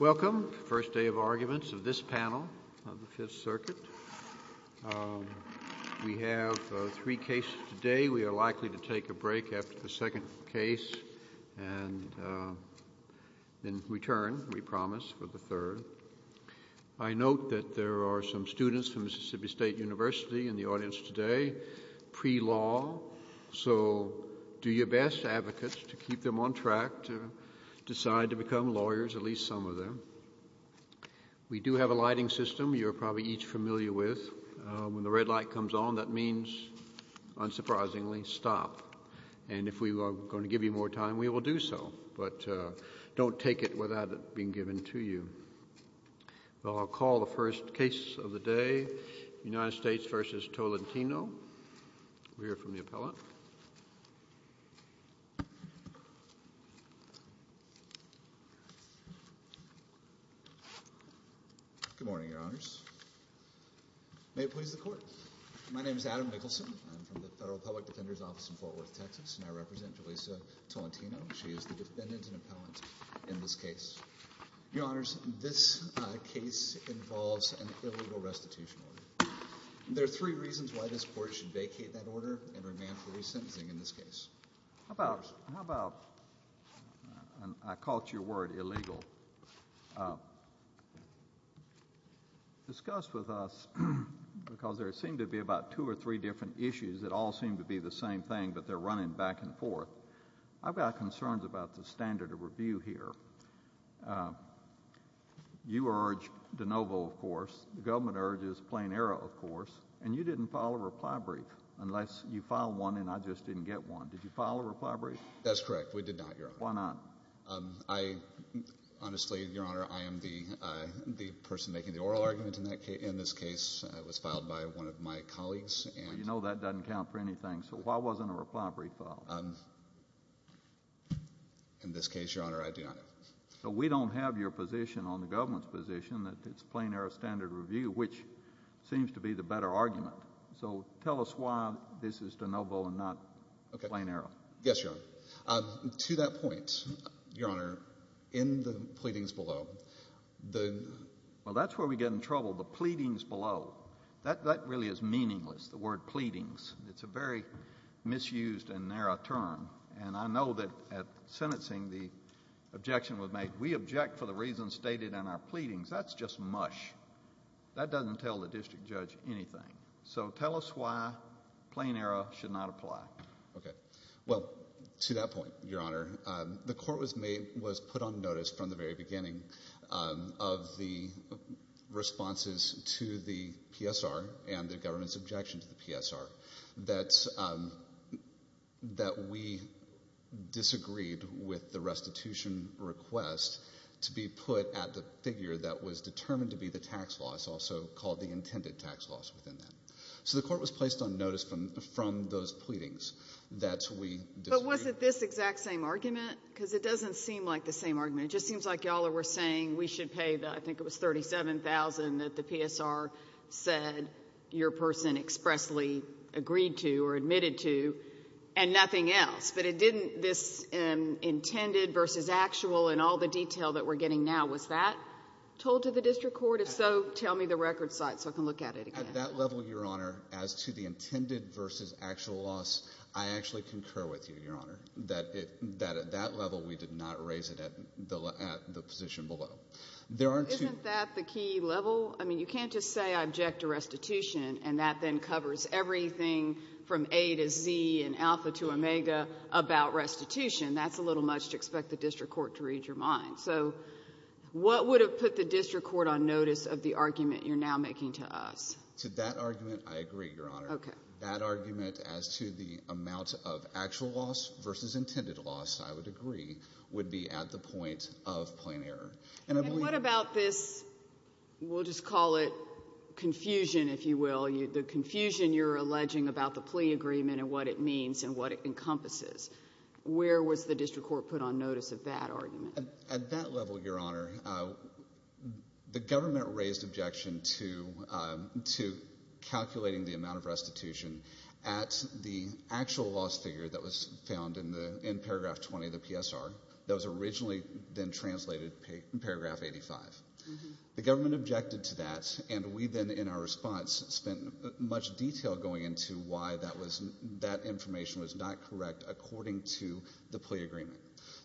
Welcome to the first day of arguments of this panel of the Fifth Circuit. We have three cases today. We are likely to take a break after the second case and then return, we promise, for the third. I note that there are some students from Mississippi State University in the audience today, pre-law. So do your best, advocates, to keep them on track to decide to become lawyers, at least some of them. We do have a lighting system you're probably each familiar with. When the red light comes on, that means, unsurprisingly, stop. And if we are going to give you more time, we will do so. But don't take it without it being given to you. I'll call the first case of the day, United States v. Tolentino. We'll hear from the appellant. Good morning, Your Honors. May it please the Court. My name is Adam Nicholson. I'm from the Federal Public Defender's Office in Fort Worth, Texas, and I represent Julisa Tolentino. She is the defendant and appellant in this case. Your Honors, this case involves an illegal restitution order. There are three reasons why this Court should vacate that order and remand for resentencing in this case. How about, I call to your word, illegal. Discuss with us, because there seem to be about two or three different issues that all seem to be the same thing, but they're running back and forth. I've got concerns about the standard of review here. You urge de novo, of course. The government urges plain error, of course. And you didn't file a reply brief, unless you filed one and I just didn't get one. Did you file a reply brief? That's correct. We did not, Your Honor. Why not? Honestly, Your Honor, I am the person making the oral argument in this case. It was filed by one of my colleagues. Well, you know that doesn't count for anything. So why wasn't a reply brief filed? In this case, Your Honor, I do not know. So we don't have your position on the government's position that it's plain error standard of review, which seems to be the better argument. So tell us why this is de novo and not plain error. Yes, Your Honor. To that point, Your Honor, in the pleadings below, the — Well, that's where we get in trouble, the pleadings below. That really is meaningless, the word pleadings. It's a very misused and narrow term. And I know that at sentencing the objection was made, we object for the reasons stated in our pleadings. That's just mush. That doesn't tell the district judge anything. So tell us why plain error should not apply. Okay. Well, to that point, Your Honor, the court was put on notice from the very beginning of the responses to the PSR and the government's objection to the PSR that we disagreed with the restitution request to be put at the figure that was determined to be the tax loss, also called the intended tax loss within that. So the court was placed on notice from those pleadings that we disagreed. But was it this exact same argument? Because it doesn't seem like the same argument. It just seems like y'all were saying we should pay the — I think it was $37,000 that the PSR said your person expressly agreed to or admitted to and nothing else. But it didn't — this intended versus actual and all the detail that we're getting now, was that told to the district court? If so, tell me the record site so I can look at it again. At that level, Your Honor, as to the intended versus actual loss, I actually concur with you, Your Honor, that at that level we did not raise it at the position below. There are two — Isn't that the key level? I mean, you can't just say I object to restitution and that then covers everything from A to Z and alpha to omega about restitution. That's a little much to expect the district court to read your mind. So what would have put the district court on notice of the argument you're now making to us? To that argument, I agree, Your Honor. Okay. That argument as to the amount of actual loss versus intended loss, I would agree, would be at the point of plain error. And I believe — And what about this — we'll just call it confusion, if you will, the confusion you're alleging about the plea agreement and what it means and what it encompasses? Where was the district court put on notice of that argument? At that level, Your Honor, the government raised objection to calculating the amount of restitution at the actual loss figure that was found in paragraph 20 of the PSR that was originally then translated in paragraph 85. The government objected to that, and we then in our response spent much detail going into why that information was not correct according to the plea agreement.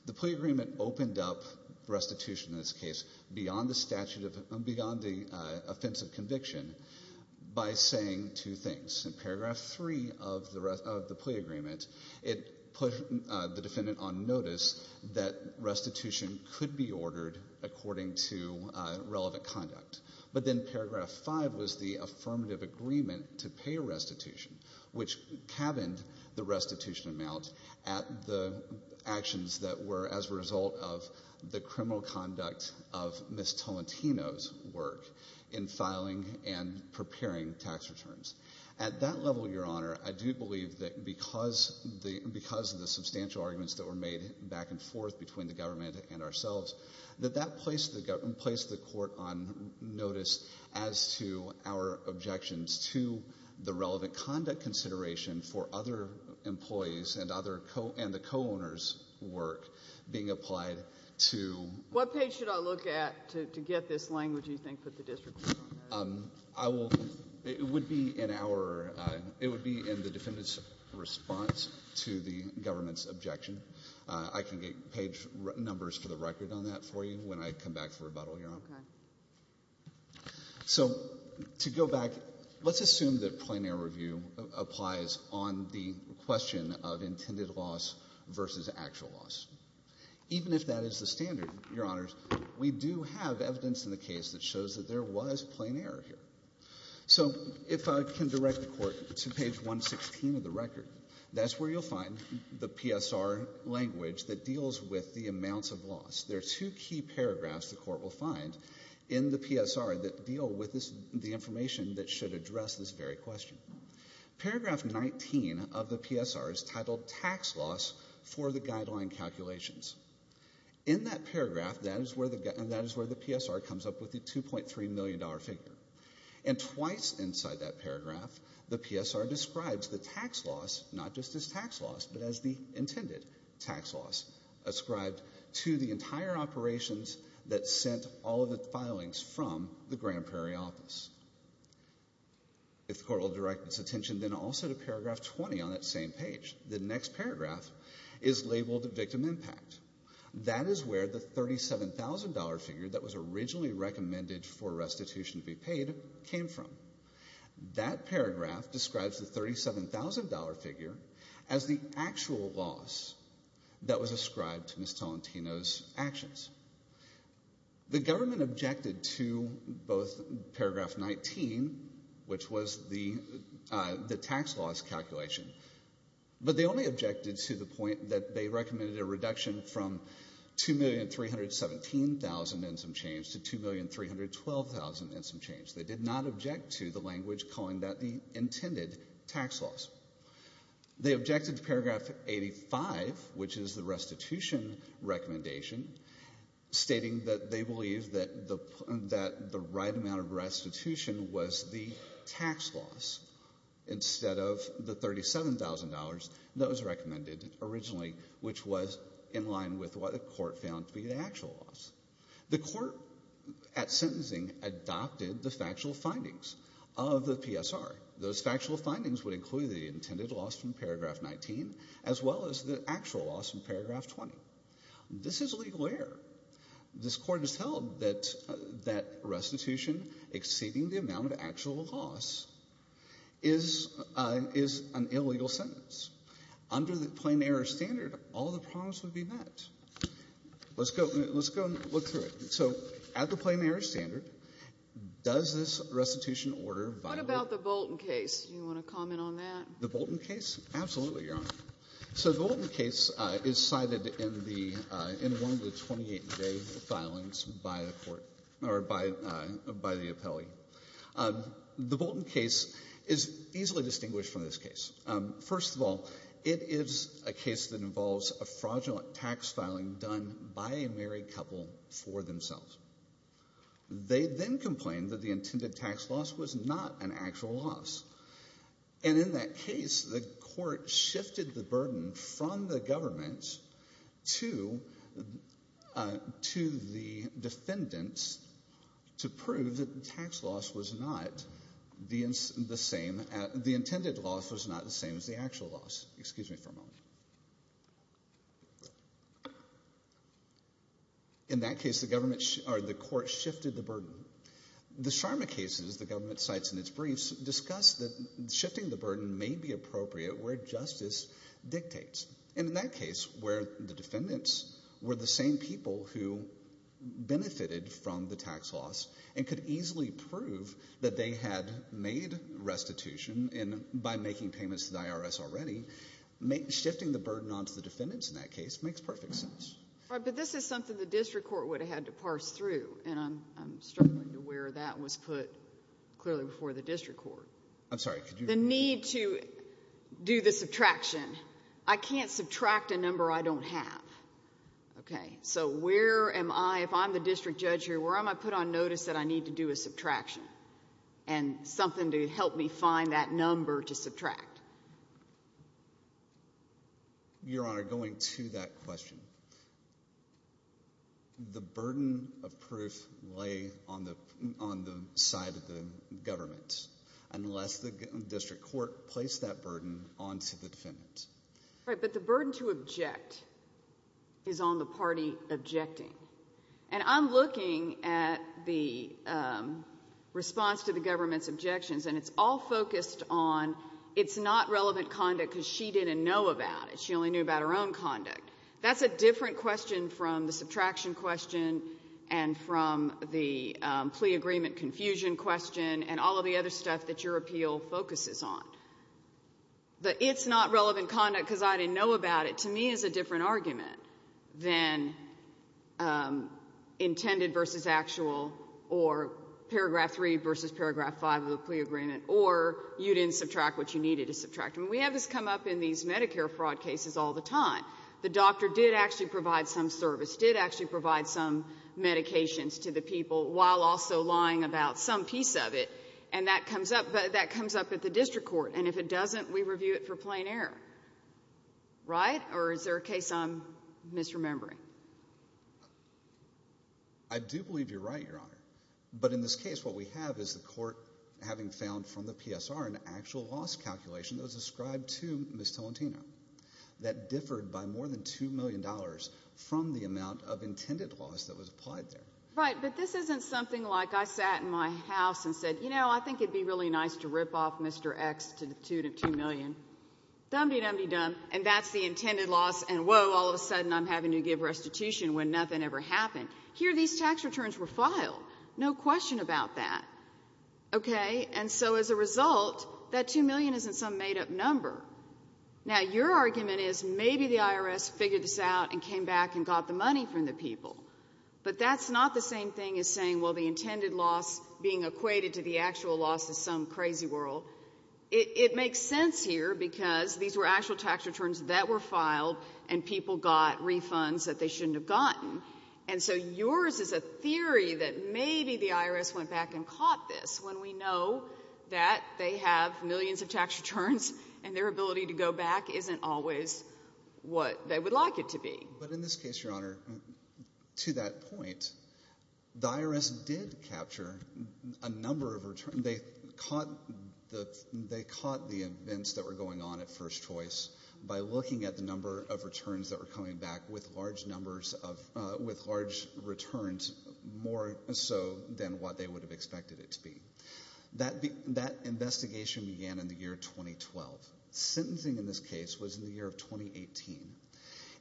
The plea agreement opened up restitution in this case beyond the statute of — beyond the offense of conviction by saying two things. In paragraph 3 of the plea agreement, it put the defendant on notice that restitution could be ordered according to relevant conduct. But then paragraph 5 was the affirmative agreement to pay restitution, which cabined the restitution amount at the actions that were as a result of the criminal conduct of Ms. Tolentino's work in filing and preparing tax returns. At that level, Your Honor, I do believe that because of the substantial arguments that were made back and forth between the government and ourselves, that that placed the court on notice as to our objections to the relevant conduct consideration for other employees and the co-owners' work being applied to — What page should I look at to get this language you think that the district court put on notice? I will — it would be in our — it would be in the defendant's response to the government's objection. I can get page numbers for the record on that for you when I come back for rebuttal, Your Honor. Okay. So to go back, let's assume that plein air review applies on the question of intended loss versus actual loss. Even if that is the standard, Your Honors, we do have evidence in the case that shows that there was plein air here. So if I can direct the court to page 116 of the record, that's where you'll find the PSR language that deals with the amounts of loss. There are two key paragraphs the court will find in the PSR that deal with this — the information that should address this very question. Paragraph 19 of the PSR is titled Tax Loss for the Guideline Calculations. In that paragraph, that is where the PSR comes up with the $2.3 million figure. And twice inside that paragraph, the PSR describes the tax loss not just as tax loss, but as the intended tax loss, ascribed to the entire operations that sent all of the filings from the Grand Prairie office. If the court will direct its attention then also to paragraph 20 on that same page. The next paragraph is labeled Victim Impact. That is where the $37,000 figure that was originally recommended for restitution to be paid came from. That paragraph describes the $37,000 figure as the actual loss that was ascribed to Ms. Tolentino's actions. The government objected to both paragraph 19, which was the tax loss calculation, but they only objected to the point that they recommended a reduction from $2,317,000 in some change to $2,312,000 in some change. They did not object to the language calling that the intended tax loss. They objected to paragraph 85, which is the restitution recommendation, stating that they believe that the right amount of restitution was the tax loss instead of the $37,000 that was recommended originally, which was in line with what the court found to be the actual loss. The court at sentencing adopted the factual findings of the PSR. Those factual findings would include the intended loss from paragraph 19 as well as the actual loss from paragraph 20. This is legal error. This Court has held that restitution exceeding the amount of actual loss is an illegal sentence. Under the plain-error standard, all the problems would be met. Let's go and look through it. So at the plain-error standard, does this restitution order violate? What about the Bolton case? The Bolton case? Absolutely, Your Honor. So the Bolton case is cited in the one of the 28-day filings by the court or by the appellee. The Bolton case is easily distinguished from this case. First of all, it is a case that involves a fraudulent tax filing done by a married couple for themselves. They then complained that the intended tax loss was not an actual loss. And in that case, the court shifted the burden from the government to the defendants to prove that the tax loss was not the same, the intended loss was not the same as the actual loss. Excuse me for a moment. In that case, the government or the court shifted the burden. The Sharma cases, the government cites in its briefs, discuss that shifting the burden may be appropriate where justice dictates. And in that case, where the defendants were the same people who benefited from the tax loss and could easily prove that they had made restitution by making payments to the IRS already, shifting the burden onto the defendants in that case makes perfect sense. All right. But this is something the district court would have had to parse through, and I'm struggling to where that was put clearly before the district court. I'm sorry. The need to do the subtraction. I can't subtract a number I don't have. Okay. So where am I, if I'm the district judge here, where am I put on notice that I need to do a subtraction and something to help me find that number to subtract? Your Honor, going to that question, the burden of proof lay on the side of the government unless the district court placed that burden onto the defendants. Right. But the burden to object is on the party objecting. And I'm looking at the response to the government's objections, and it's all focused on it's not relevant conduct because she didn't know about it. She only knew about her own conduct. That's a different question from the subtraction question and from the plea agreement confusion question and all of the other stuff that your appeal focuses on. The it's not relevant conduct because I didn't know about it, to me, is a different argument than intended versus actual or paragraph 3 versus paragraph 5 of the plea agreement or you didn't subtract what you needed to subtract. And we have this come up in these Medicare fraud cases all the time. The doctor did actually provide some service, did actually provide some medications to the people while also lying about some piece of it. And that comes up at the district court. And if it doesn't, we review it for plain error. Right? Or is there a case I'm misremembering? I do believe you're right, Your Honor. But in this case, what we have is the court having found from the PSR an actual loss calculation that was ascribed to Ms. Tolentino that differed by more than $2 million from the amount of intended loss that was applied there. Right, but this isn't something like I sat in my house and said, you know, I think it would be really nice to rip off Mr. X to the tune of $2 million. Dum-de-dum-de-dum, and that's the intended loss, and whoa, all of a sudden I'm having to give restitution when nothing ever happened. Here, these tax returns were filed. No question about that. Okay? And so as a result, that $2 million isn't some made-up number. Now, your argument is maybe the IRS figured this out and came back and got the money from the people. But that's not the same thing as saying, well, the intended loss being equated to the actual loss is some crazy whirl. It makes sense here because these were actual tax returns that were filed and people got refunds that they shouldn't have gotten. And so yours is a theory that maybe the IRS went back and caught this when we know that they have millions of tax returns and their ability to go back isn't always what they would like it to be. But in this case, Your Honor, to that point, the IRS did capture a number of returns. They caught the events that were going on at first choice by looking at the number of returns that were coming back with large returns more so than what they would have expected it to be. That investigation began in the year 2012. Sentencing in this case was in the year of 2018.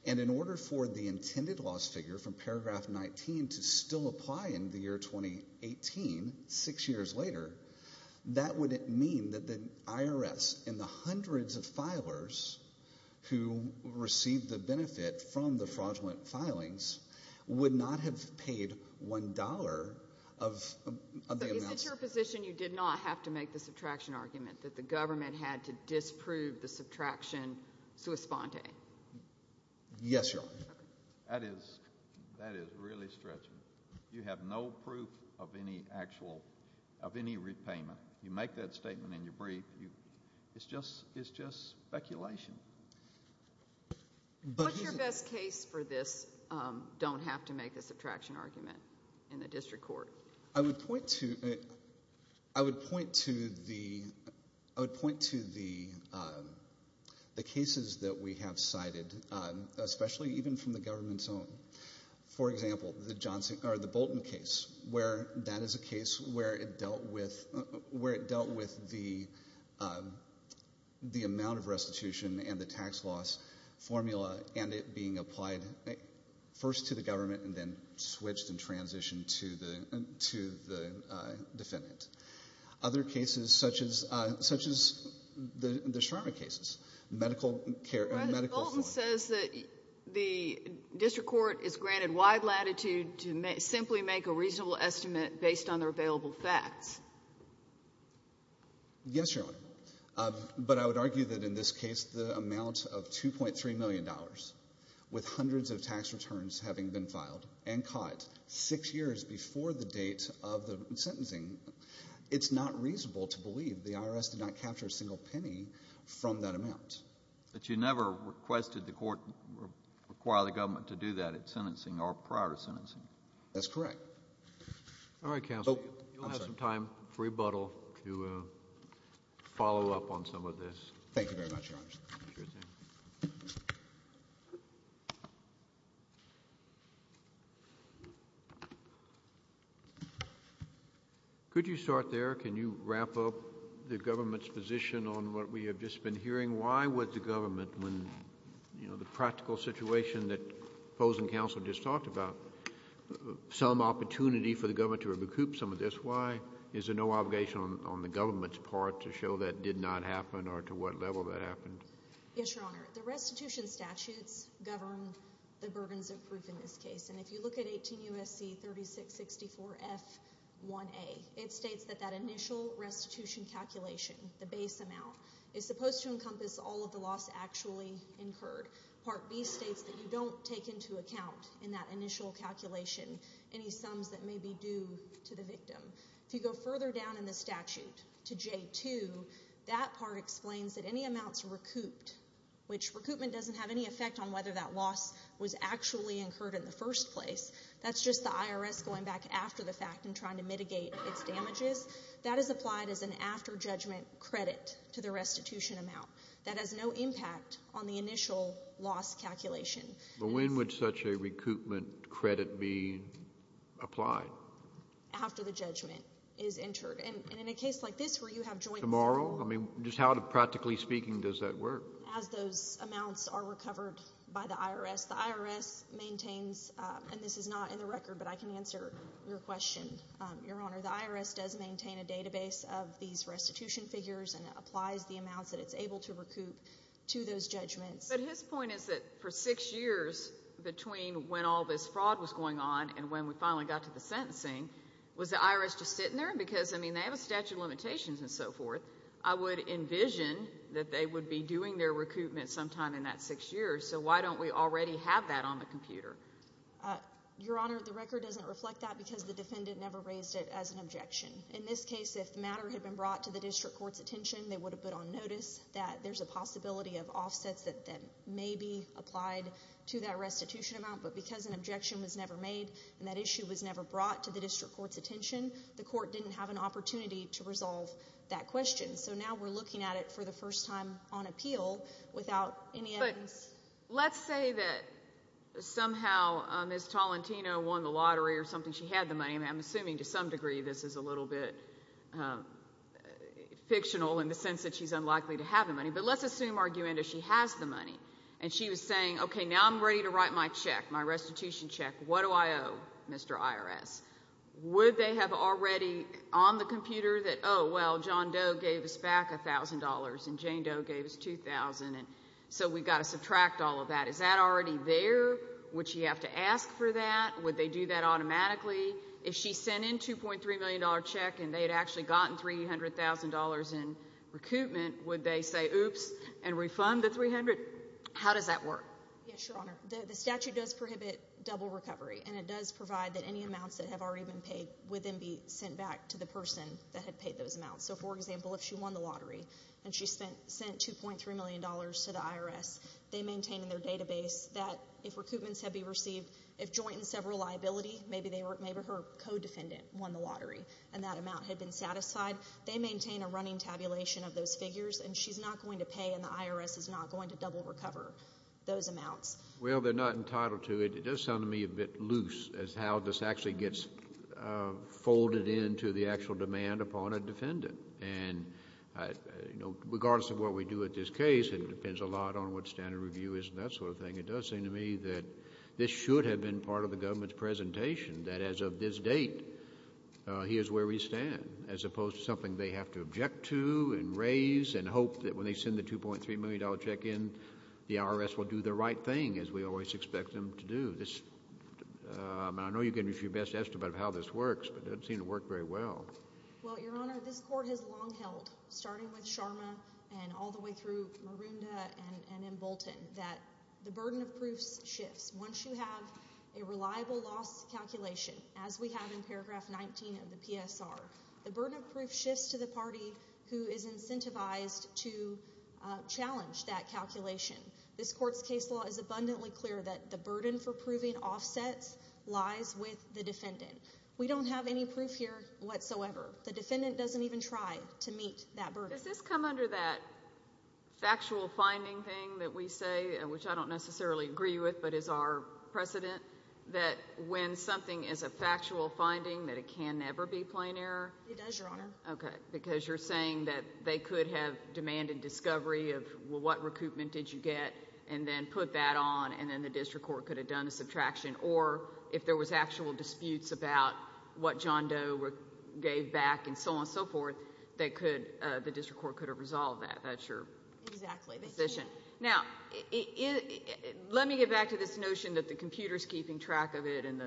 And in order for the intended loss figure from paragraph 19 to still apply in the year 2018, six years later, that would mean that the IRS and the hundreds of filers who received the benefit from the fraudulent filings would not have paid $1 of the amounts. But is it your position you did not have to make the subtraction argument, that the government had to disprove the subtraction sua sponte? Yes, Your Honor. That is really stretchy. You have no proof of any actual, of any repayment. You make that statement and you brief. It's just speculation. What's your best case for this don't have to make a subtraction argument in the district court? I would point to the cases that we have cited, especially even from the government's own. For example, the Bolton case, where that is a case where it dealt with the amount of restitution and the tax loss formula and it being applied first to the government and then switched and transitioned to the defendant. Other cases, such as the Sharma cases. Mr. Bolton says that the district court is granted wide latitude to simply make a reasonable estimate based on their available facts. Yes, Your Honor. But I would argue that in this case, the amount of $2.3 million, with hundreds of tax returns having been filed and caught six years before the date of the sentencing, it's not reasonable to believe the IRS did not capture a single penny from that amount. But you never requested the court require the government to do that at sentencing or prior to sentencing. That's correct. All right, counsel. You'll have some time for rebuttal to follow up on some of this. Thank you very much, Your Honor. Sure thing. Could you start there? Can you wrap up the government's position on what we have just been hearing? Why would the government, when the practical situation that opposing counsel just talked about, some opportunity for the government to recoup some of this? Why is there no obligation on the government's part to show that did not happen or to what level that happened? Yes, Your Honor. The restitution statutes govern the burdens of proof in this case. And if you look at 18 U.S.C. 3664 F1A, it states that that initial restitution calculation, the base amount, is supposed to encompass all of the loss actually incurred. Part B states that you don't take into account in that initial calculation any sums that may be due to the victim. If you go further down in the statute to J2, that part explains that any amounts recouped, which recoupment doesn't have any effect on whether that loss was actually incurred in the first place. That's just the IRS going back after the fact and trying to mitigate its damages. That is applied as an after judgment credit to the restitution amount. That has no impact on the initial loss calculation. But when would such a recoupment credit be applied? After the judgment is entered. And in a case like this where you have joint— Tomorrow? I mean, just how, practically speaking, does that work? As those amounts are recovered by the IRS, the IRS maintains— and this is not in the record, but I can answer your question, Your Honor. The IRS does maintain a database of these restitution figures and applies the amounts that it's able to recoup to those judgments. But his point is that for six years between when all this fraud was going on and when we finally got to the sentencing, was the IRS just sitting there? Because, I mean, they have a statute of limitations and so forth. I would envision that they would be doing their recoupment sometime in that six years. So why don't we already have that on the computer? Your Honor, the record doesn't reflect that because the defendant never raised it as an objection. In this case, if the matter had been brought to the district court's attention, they would have put on notice that there's a possibility of offsets that may be applied to that restitution amount. But because an objection was never made and that issue was never brought to the district court's attention, the court didn't have an opportunity to resolve that question. So now we're looking at it for the first time on appeal without any evidence. But let's say that somehow Ms. Tolentino won the lottery or something. She had the money. I'm assuming to some degree this is a little bit fictional in the sense that she's unlikely to have the money. But let's assume, argumentatively, she has the money and she was saying, okay, now I'm ready to write my check, my restitution check. What do I owe, Mr. IRS? Would they have already on the computer that, oh, well, John Doe gave us back $1,000 and Jane Doe gave us $2,000, so we've got to subtract all of that. Is that already there? Would she have to ask for that? Would they do that automatically? If she sent in a $2.3 million check and they had actually gotten $300,000 in recoupment, would they say, oops, and refund the $300,000? How does that work? Yes, Your Honor. The statute does prohibit double recovery, and it does provide that any amounts that have already been paid would then be sent back to the person that had paid those amounts. So, for example, if she won the lottery and she sent $2.3 million to the IRS, they maintain in their database that if recoupments had been received, if joint and several liability, maybe her co-defendant won the lottery and that amount had been satisfied. They maintain a running tabulation of those figures, and she's not going to pay and the IRS is not going to double recover those amounts. Well, they're not entitled to it. It does sound to me a bit loose as how this actually gets folded into the actual demand upon a defendant. And regardless of what we do at this case, it depends a lot on what standard review is and that sort of thing. It does seem to me that this should have been part of the government's presentation, that as of this date, here's where we stand, as opposed to something they have to object to and raise and hope that when they send the $2.3 million check in, the IRS will do the right thing as we always expect them to do. I know you're getting your best estimate of how this works, but it doesn't seem to work very well. Well, Your Honor, this Court has long held, starting with Sharma and all the way through Maroondah and in Bolton, that the burden of proof shifts. Once you have a reliable loss calculation, as we have in paragraph 19 of the PSR, the burden of proof shifts to the party who is incentivized to challenge that calculation. This Court's case law is abundantly clear that the burden for proving offsets lies with the defendant. We don't have any proof here whatsoever. The defendant doesn't even try to meet that burden. Does this come under that factual finding thing that we say, which I don't necessarily agree with but is our precedent, that when something is a factual finding that it can never be plain error? It does, Your Honor. Okay, because you're saying that they could have demanded discovery of, well, what recoupment did you get, and then put that on, and then the district court could have done a subtraction, or if there was actual disputes about what John Doe gave back and so on and so forth, the district court could have resolved that. That's your position. Exactly. Now, let me get back to this notion that the computer is keeping track of it and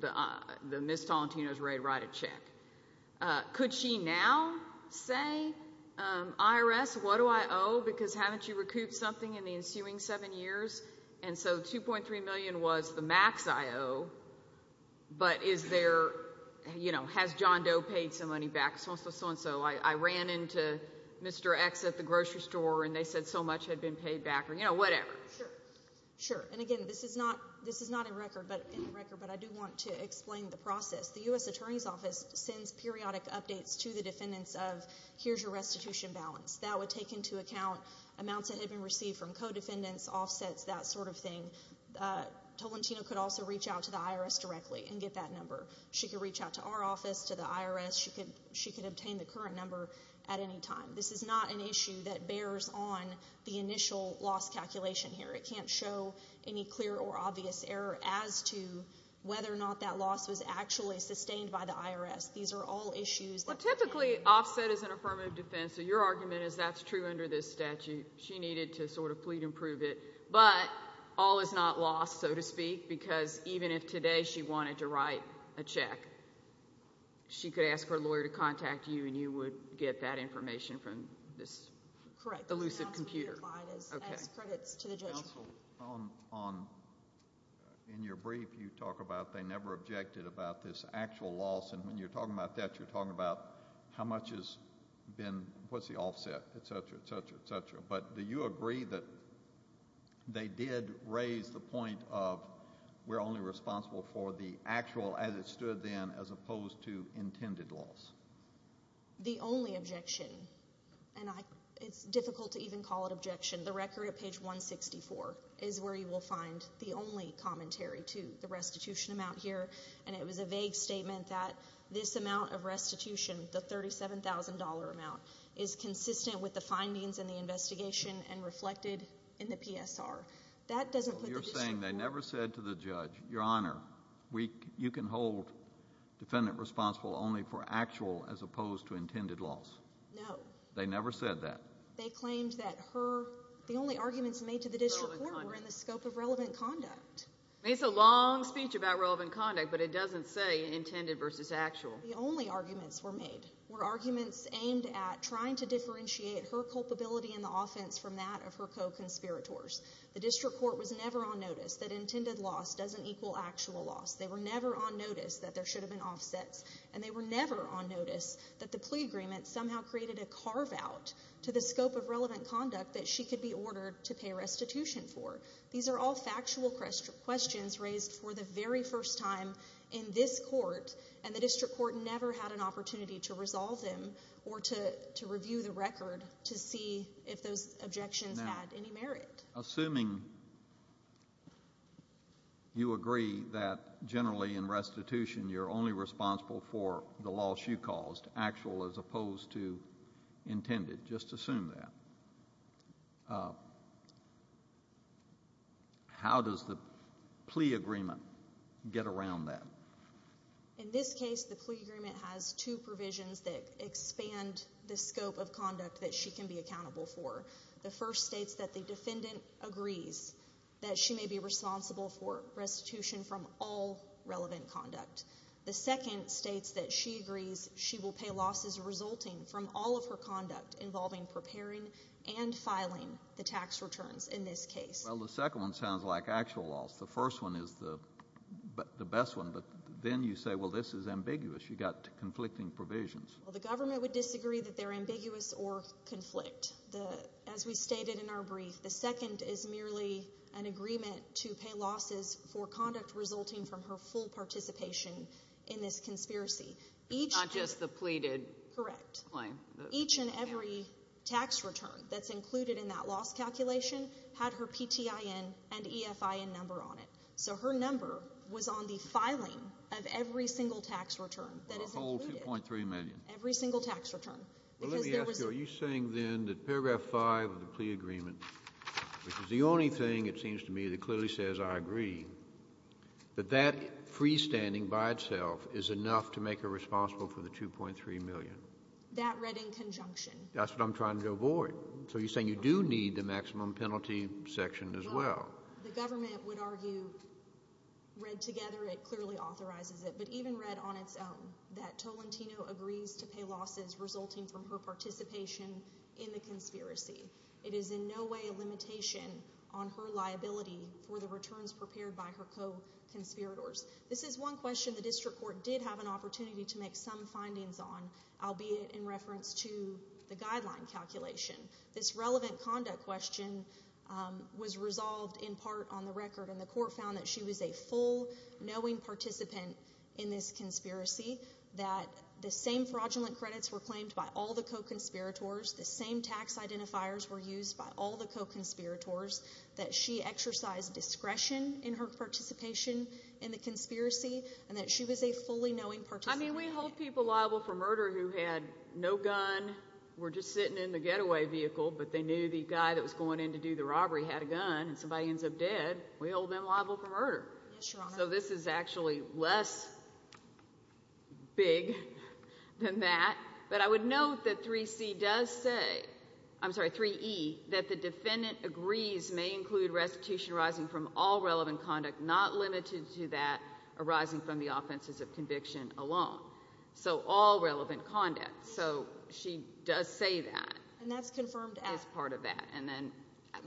that Ms. Tolentino is ready to write a check. Could she now say, IRS, what do I owe? Because haven't you recouped something in the ensuing seven years? And so $2.3 million was the max I owe, but is there, you know, has John Doe paid some money back, so-and-so, so-and-so? I ran into Mr. X at the grocery store, and they said so much had been paid back, or, you know, whatever. Sure. And, again, this is not in the record, but I do want to explain the process. The U.S. Attorney's Office sends periodic updates to the defendants of, here's your restitution balance. That would take into account amounts that had been received from co-defendants, offsets, that sort of thing. Tolentino could also reach out to the IRS directly and get that number. She could reach out to our office, to the IRS. She could obtain the current number at any time. This is not an issue that bears on the initial loss calculation here. It can't show any clear or obvious error as to whether or not that loss was actually sustained by the IRS. These are all issues. Well, typically offset is an affirmative defense, so your argument is that's true under this statute. She needed to sort of plead and prove it. But all is not lost, so to speak, because even if today she wanted to write a check, she could ask her lawyer to contact you, and you would get that information from this elusive computer. Correct. In your brief, you talk about they never objected about this actual loss, and when you're talking about that, you're talking about how much has been the offset, et cetera, et cetera, et cetera. But do you agree that they did raise the point of we're only responsible for the actual, as it stood then, as opposed to intended loss? The only objection, and it's difficult to even call it objection, the record at page 164 is where you will find the only commentary to the restitution amount here, and it was a vague statement that this amount of restitution, the $37,000 amount, is consistent with the findings in the investigation and reflected in the PSR. That doesn't put the issue forward. You're saying they never said to the judge, Your Honor, you can hold defendant responsible only for actual as opposed to intended loss? No. They never said that? They claimed that the only arguments made to the district court were in the scope of relevant conduct. It's a long speech about relevant conduct, but it doesn't say intended versus actual. The only arguments were made, were arguments aimed at trying to differentiate her culpability in the offense from that of her co-conspirators. The district court was never on notice that intended loss doesn't equal actual loss. They were never on notice that there should have been offsets, and they were never on notice that the plea agreement somehow created a carve-out to the scope of relevant conduct that she could be ordered to pay restitution for. These are all factual questions raised for the very first time in this court, and the district court never had an opportunity to resolve them or to review the record to see if those objections had any merit. Assuming you agree that generally in restitution you're only responsible for the loss you caused, actual as opposed to intended, just assume that, how does the plea agreement get around that? In this case, the plea agreement has two provisions that expand the scope of conduct that she can be accountable for. The first states that the defendant agrees that she may be responsible for restitution from all relevant conduct. The second states that she agrees she will pay losses resulting from all of her conduct involving preparing and filing the tax returns in this case. Well, the second one sounds like actual loss. The first one is the best one, but then you say, well, this is ambiguous. You've got conflicting provisions. Well, the government would disagree that they're ambiguous or conflict. As we stated in our brief, the second is merely an agreement to pay losses for conduct resulting from her full participation in this conspiracy. It's not just the pleaded claim. Correct. Each and every tax return that's included in that loss calculation had her PTIN and EFIN number on it. So her number was on the filing of every single tax return that is included. The whole $2.3 million. Every single tax return. Well, let me ask you, are you saying then that paragraph 5 of the plea agreement, which is the only thing it seems to me that clearly says I agree, that that freestanding by itself is enough to make her responsible for the $2.3 million? That read in conjunction. That's what I'm trying to avoid. So you're saying you do need the maximum penalty section as well. Well, the government would argue, read together, it clearly authorizes it, but even read on its own that Tolentino agrees to pay losses resulting from her participation in the conspiracy. It is in no way a limitation on her liability for the returns prepared by her co-conspirators. This is one question the district court did have an opportunity to make some findings on, albeit in reference to the guideline calculation. This relevant conduct question was resolved in part on the record, and the court found that she was a full, knowing participant in this conspiracy, that the same fraudulent credits were claimed by all the co-conspirators, the same tax identifiers were used by all the co-conspirators, that she exercised discretion in her participation in the conspiracy, and that she was a fully knowing participant. I mean, we hold people liable for murder who had no gun, were just sitting in the getaway vehicle, but they knew the guy that was going in to do the robbery had a gun, and somebody ends up dead. We hold them liable for murder. Yes, Your Honor. So this is actually less big than that. But I would note that 3C does say, I'm sorry, 3E, that the defendant agrees may include restitution arising from all relevant conduct, not limited to that arising from the offenses of conviction alone. So all relevant conduct. So she does say that. And that's confirmed as part of that.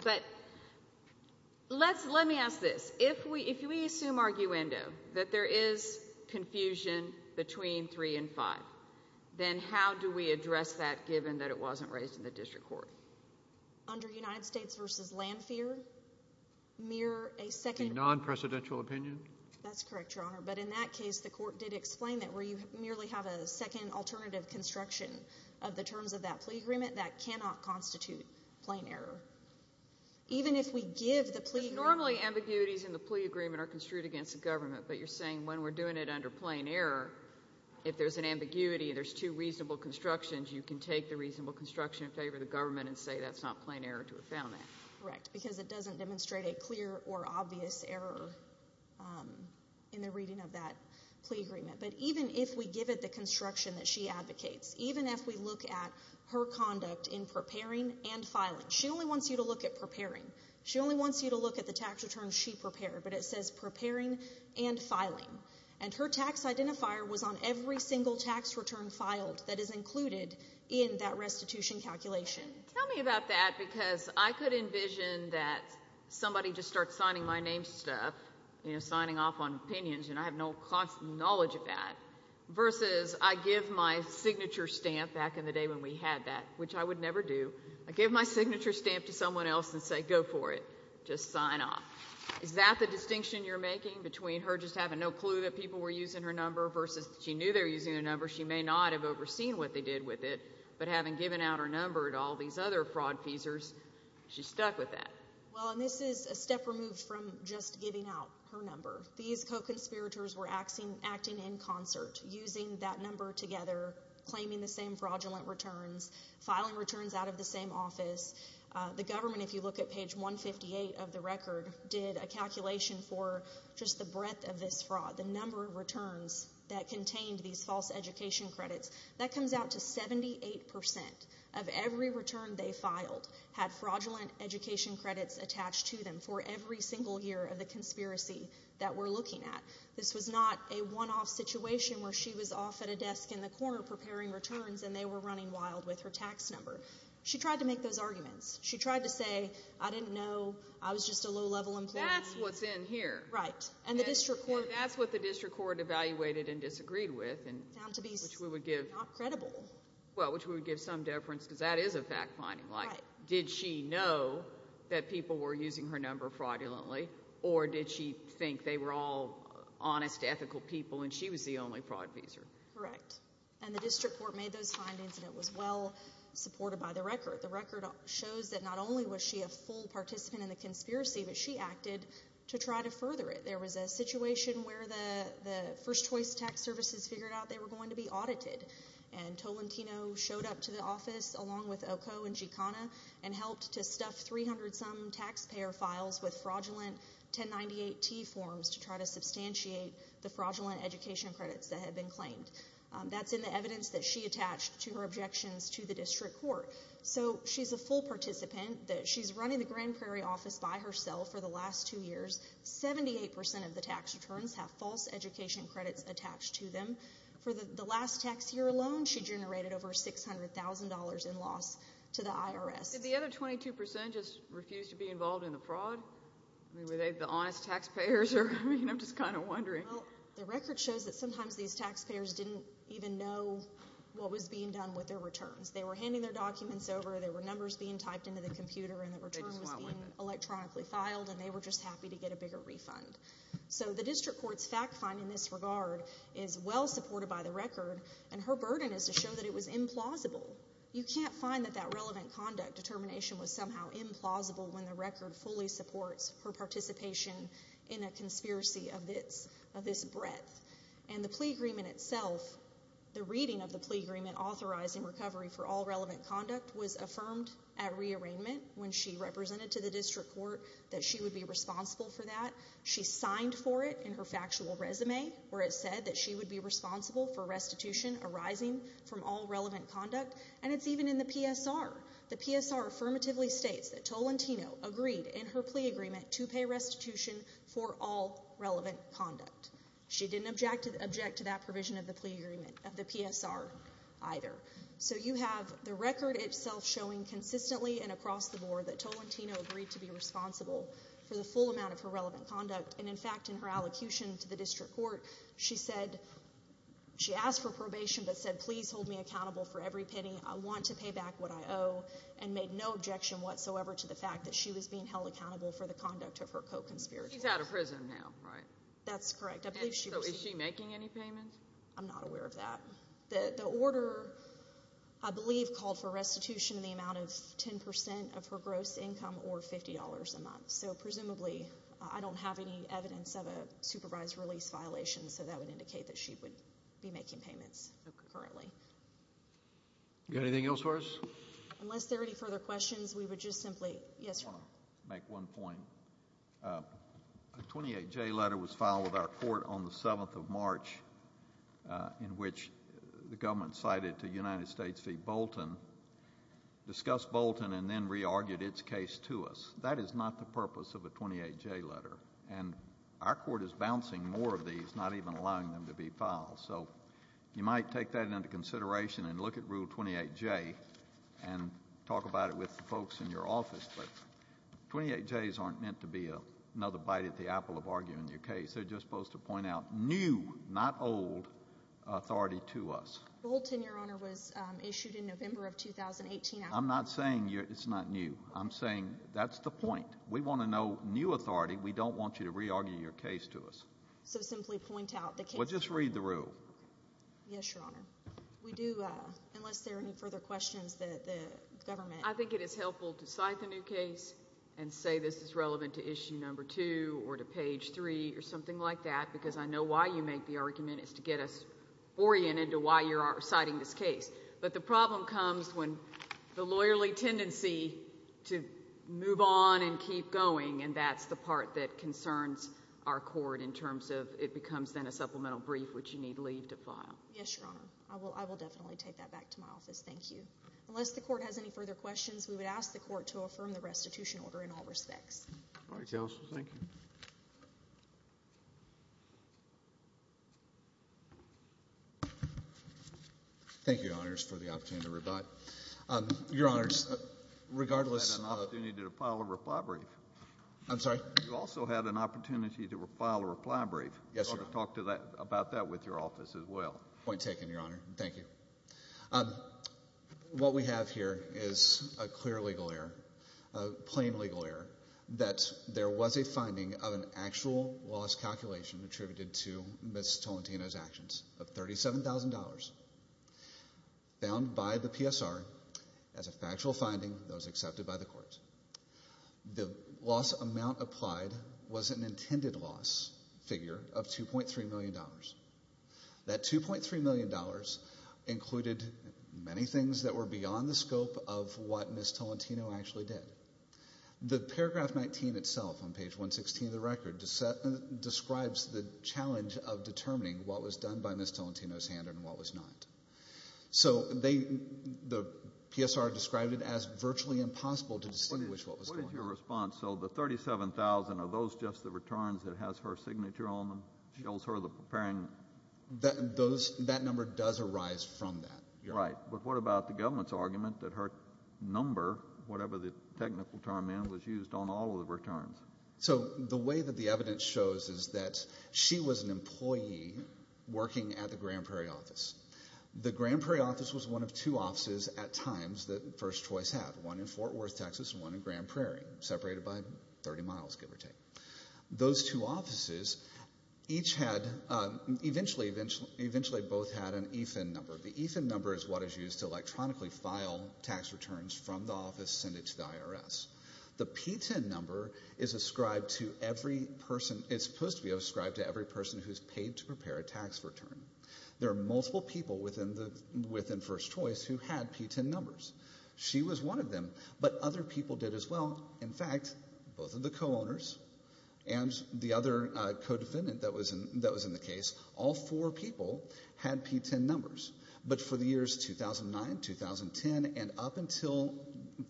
But let me ask this. If we assume arguendo that there is confusion between 3 and 5, then how do we address that given that it wasn't raised in the district court? Under United States v. Landfear, mere a second— A non-presidential opinion? That's correct, Your Honor. But in that case, the court did explain that where you merely have a second alternative construction of the terms of that plea agreement, that cannot constitute plain error. Even if we give the plea agreement— Because normally ambiguities in the plea agreement are construed against the government, but you're saying when we're doing it under plain error, if there's an ambiguity, there's two reasonable constructions, you can take the reasonable construction in favor of the government and say that's not plain error to affirm that. Correct, because it doesn't demonstrate a clear or obvious error in the reading of that plea agreement. But even if we give it the construction that she advocates, even if we look at her conduct in preparing and filing— She only wants you to look at preparing. She only wants you to look at the tax returns she prepared, but it says preparing and filing. And her tax identifier was on every single tax return filed that is included in that restitution calculation. Tell me about that, because I could envision that somebody just starts signing my name stuff, signing off on opinions, and I have no knowledge of that, versus I give my signature stamp back in the day when we had that, which I would never do. I give my signature stamp to someone else and say go for it. Just sign off. Is that the distinction you're making between her just having no clue that people were using her number versus she knew they were using her number? She may not have overseen what they did with it, but having given out her number to all these other fraud-feasers, she's stuck with that. Well, and this is a step removed from just giving out her number. These co-conspirators were acting in concert, using that number together, claiming the same fraudulent returns, filing returns out of the same office. The government, if you look at page 158 of the record, did a calculation for just the breadth of this fraud, the number of returns that contained these false education credits. That comes out to 78% of every return they filed had fraudulent education credits attached to them for every single year of the conspiracy that we're looking at. This was not a one-off situation where she was off at a desk in the corner preparing returns and they were running wild with her tax number. She tried to make those arguments. She tried to say, I didn't know. I was just a low-level employee. That's what's in here. Right. That's what the district court evaluated and disagreed with, which we would give some deference because that is a fact-finding. Right. Did she know that people were using her number fraudulently, or did she think they were all honest, ethical people, and she was the only fraud user? Correct, and the district court made those findings, and it was well supported by the record. The record shows that not only was she a full participant in the conspiracy, but she acted to try to further it. There was a situation where the First Choice Tax Services figured out they were going to be audited, and Tolentino showed up to the office along with Oco and Gicana and helped to stuff 300-some taxpayer files with fraudulent 1098-T forms to try to substantiate the fraudulent education credits that had been claimed. That's in the evidence that she attached to her objections to the district court. So she's a full participant. She's running the Grand Prairie office by herself for the last two years. Seventy-eight percent of the tax returns have false education credits attached to them. For the last tax year alone, she generated over $600,000 in loss to the IRS. Did the other 22% just refuse to be involved in the fraud? I mean, were they the honest taxpayers? I mean, I'm just kind of wondering. Well, the record shows that sometimes these taxpayers didn't even know what was being done with their returns. They were handing their documents over, there were numbers being typed into the computer, and the return was being electronically filed, and they were just happy to get a bigger refund. So the district court's fact find in this regard is well supported by the record, and her burden is to show that it was implausible. You can't find that that relevant conduct determination was somehow implausible when the record fully supports her participation in a conspiracy of this breadth. And the plea agreement itself, the reading of the plea agreement authorizing recovery for all relevant conduct, was affirmed at rearrangement when she represented to the district court that she would be responsible for that. She signed for it in her factual resume, where it said that she would be responsible for restitution arising from all relevant conduct, and it's even in the PSR. The PSR affirmatively states that Tolentino agreed in her plea agreement to pay restitution for all relevant conduct. She didn't object to that provision of the PSR either. So you have the record itself showing consistently and across the board that Tolentino agreed to be responsible for the full amount of her relevant conduct. And, in fact, in her allocution to the district court, she said she asked for probation but said please hold me accountable for every penny. I want to pay back what I owe and made no objection whatsoever to the fact that she was being held accountable for the conduct of her co-conspirator. She's out of prison now, right? That's correct. So is she making any payments? I'm not aware of that. The order, I believe, called for restitution in the amount of 10% of her gross income or $50 a month. So, presumably, I don't have any evidence of a supervised release violation, so that would indicate that she would be making payments currently. Do you have anything else for us? Unless there are any further questions, we would just simply—yes, sir. I want to make one point. A 28J letter was filed with our court on the 7th of March in which the government cited to United States v. Bolton, discussed Bolton and then re-argued its case to us. That is not the purpose of a 28J letter, and our court is bouncing more of these, not even allowing them to be filed. So you might take that into consideration and look at Rule 28J and talk about it with the folks in your office, but 28Js aren't meant to be another bite at the apple of arguing your case. They're just supposed to point out new, not old, authority to us. Bolton, Your Honor, was issued in November of 2018. I'm not saying it's not new. I'm saying that's the point. We want to know new authority. We don't want you to re-argue your case to us. So simply point out the case— Well, just read the rule. Yes, Your Honor. We do—unless there are any further questions, the government— I think it is helpful to cite the new case and say this is relevant to Issue No. 2 or to Page 3 or something like that because I know why you make the argument is to get us oriented to why you're citing this case. But the problem comes when the lawyerly tendency to move on and keep going, and that's the part that concerns our court in terms of it becomes then a supplemental brief which you need leave to file. Yes, Your Honor. I will definitely take that back to my office. Thank you. Unless the court has any further questions, we would ask the court to affirm the restitution order in all respects. All right, counsel. Thank you. Thank you, Your Honors, for the opportunity to reply. Your Honors, regardless of— You had an opportunity to file a reply brief. I'm sorry? You also had an opportunity to file a reply brief. Yes, Your Honor. I want to talk about that with your office as well. Point taken, Your Honor. Thank you. What we have here is a clear legal error, a plain legal error, that there was a finding of an actual loss calculation attributed to Ms. Tolentino's actions of $37,000 found by the PSR as a factual finding that was accepted by the courts. The loss amount applied was an intended loss figure of $2.3 million. That $2.3 million included many things that were beyond the scope of what Ms. Tolentino actually did. The paragraph 19 itself on page 116 of the record describes the challenge of determining what was done by Ms. Tolentino's hand and what was not. So the PSR described it as virtually impossible to distinguish what was going on. What is your response? So the $37,000, are those just the returns that has her signature on them? That number does arise from that. Right, but what about the government's argument that her number, whatever the technical term is, was used on all of the returns? So the way that the evidence shows is that she was an employee working at the Grand Prairie office. The Grand Prairie office was one of two offices at times that First Choice had, one in Fort Worth, Texas and one in Grand Prairie, separated by 30 miles, give or take. Those two offices each had, eventually both had an EFIN number. The EFIN number is what is used to electronically file tax returns from the office, send it to the IRS. The PTIN number is ascribed to every person, it's supposed to be ascribed to every person who's paid to prepare a tax return. There are multiple people within First Choice who had PTIN numbers. She was one of them, but other people did as well. In fact, both of the co-owners and the other co-defendant that was in the case, all four people had PTIN numbers. But for the years 2009, 2010, and up until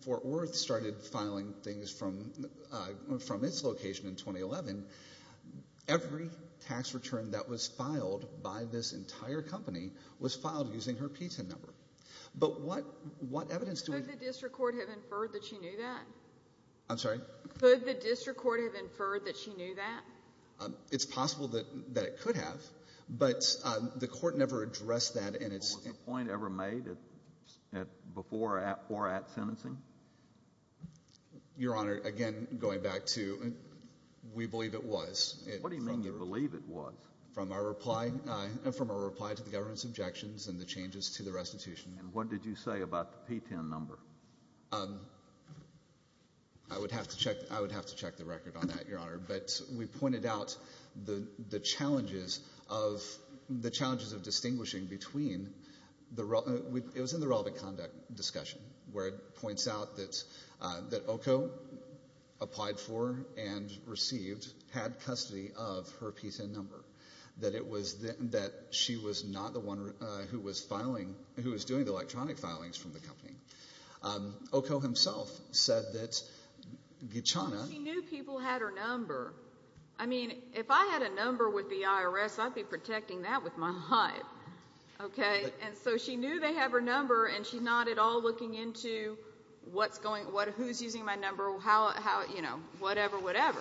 Fort Worth started filing things from its location in 2011, every tax return that was filed by this entire company was filed using her PTIN number. But what evidence do we have? Could the district court have inferred that she knew that? I'm sorry? Could the district court have inferred that she knew that? It's possible that it could have, but the court never addressed that. Was a point ever made before or at sentencing? Your Honor, again, going back to we believe it was. What do you mean you believe it was? From our reply to the government's objections and the changes to the restitution. And what did you say about the PTIN number? I would have to check the record on that, Your Honor. But we pointed out the challenges of distinguishing between the relevant conduct discussion where it points out that OCO applied for and received, had custody of her PTIN number, that she was not the one who was doing the electronic filings from the company. OCO himself said that Gichana She knew people had her number. I mean, if I had a number with the IRS, I'd be protecting that with my life. And so she knew they had her number, and she's not at all looking into who's using my number, how, you know, whatever, whatever.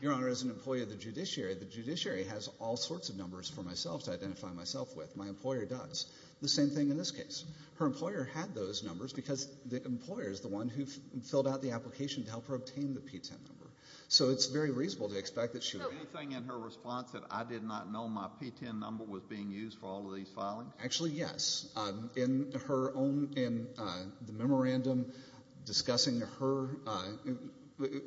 Your Honor, as an employee of the judiciary, the judiciary has all sorts of numbers for myself to identify myself with. My employer does. The same thing in this case. Her employer had those numbers because the employer is the one who filled out the application to help her obtain the PTIN number. So it's very reasonable to expect that she would So anything in her response that I did not know my PTIN number was being used for all of these filings? Actually, yes. In her own, in the memorandum discussing her,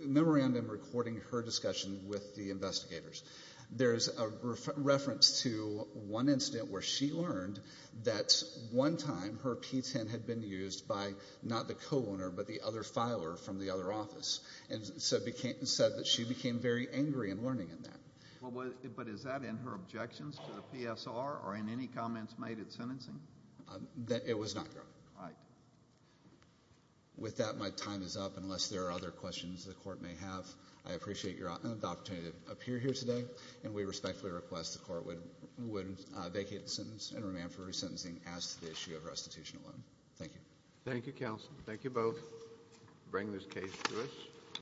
memorandum recording her discussion with the investigators, there's a reference to one incident where she learned that one time her PTIN had been used by not the co-owner but the other filer from the other office, and said that she became very angry in learning of that. But is that in her objections to the PSR or in any comments made at sentencing? It was not, Your Honor. All right. With that, my time is up. Unless there are other questions the court may have, I appreciate the opportunity to appear here today, and we respectfully request the court would vacate the sentence and remand for resentencing as to the issue of restitution alone. Thank you. Thank you, counsel. Thank you both for bringing this case to us.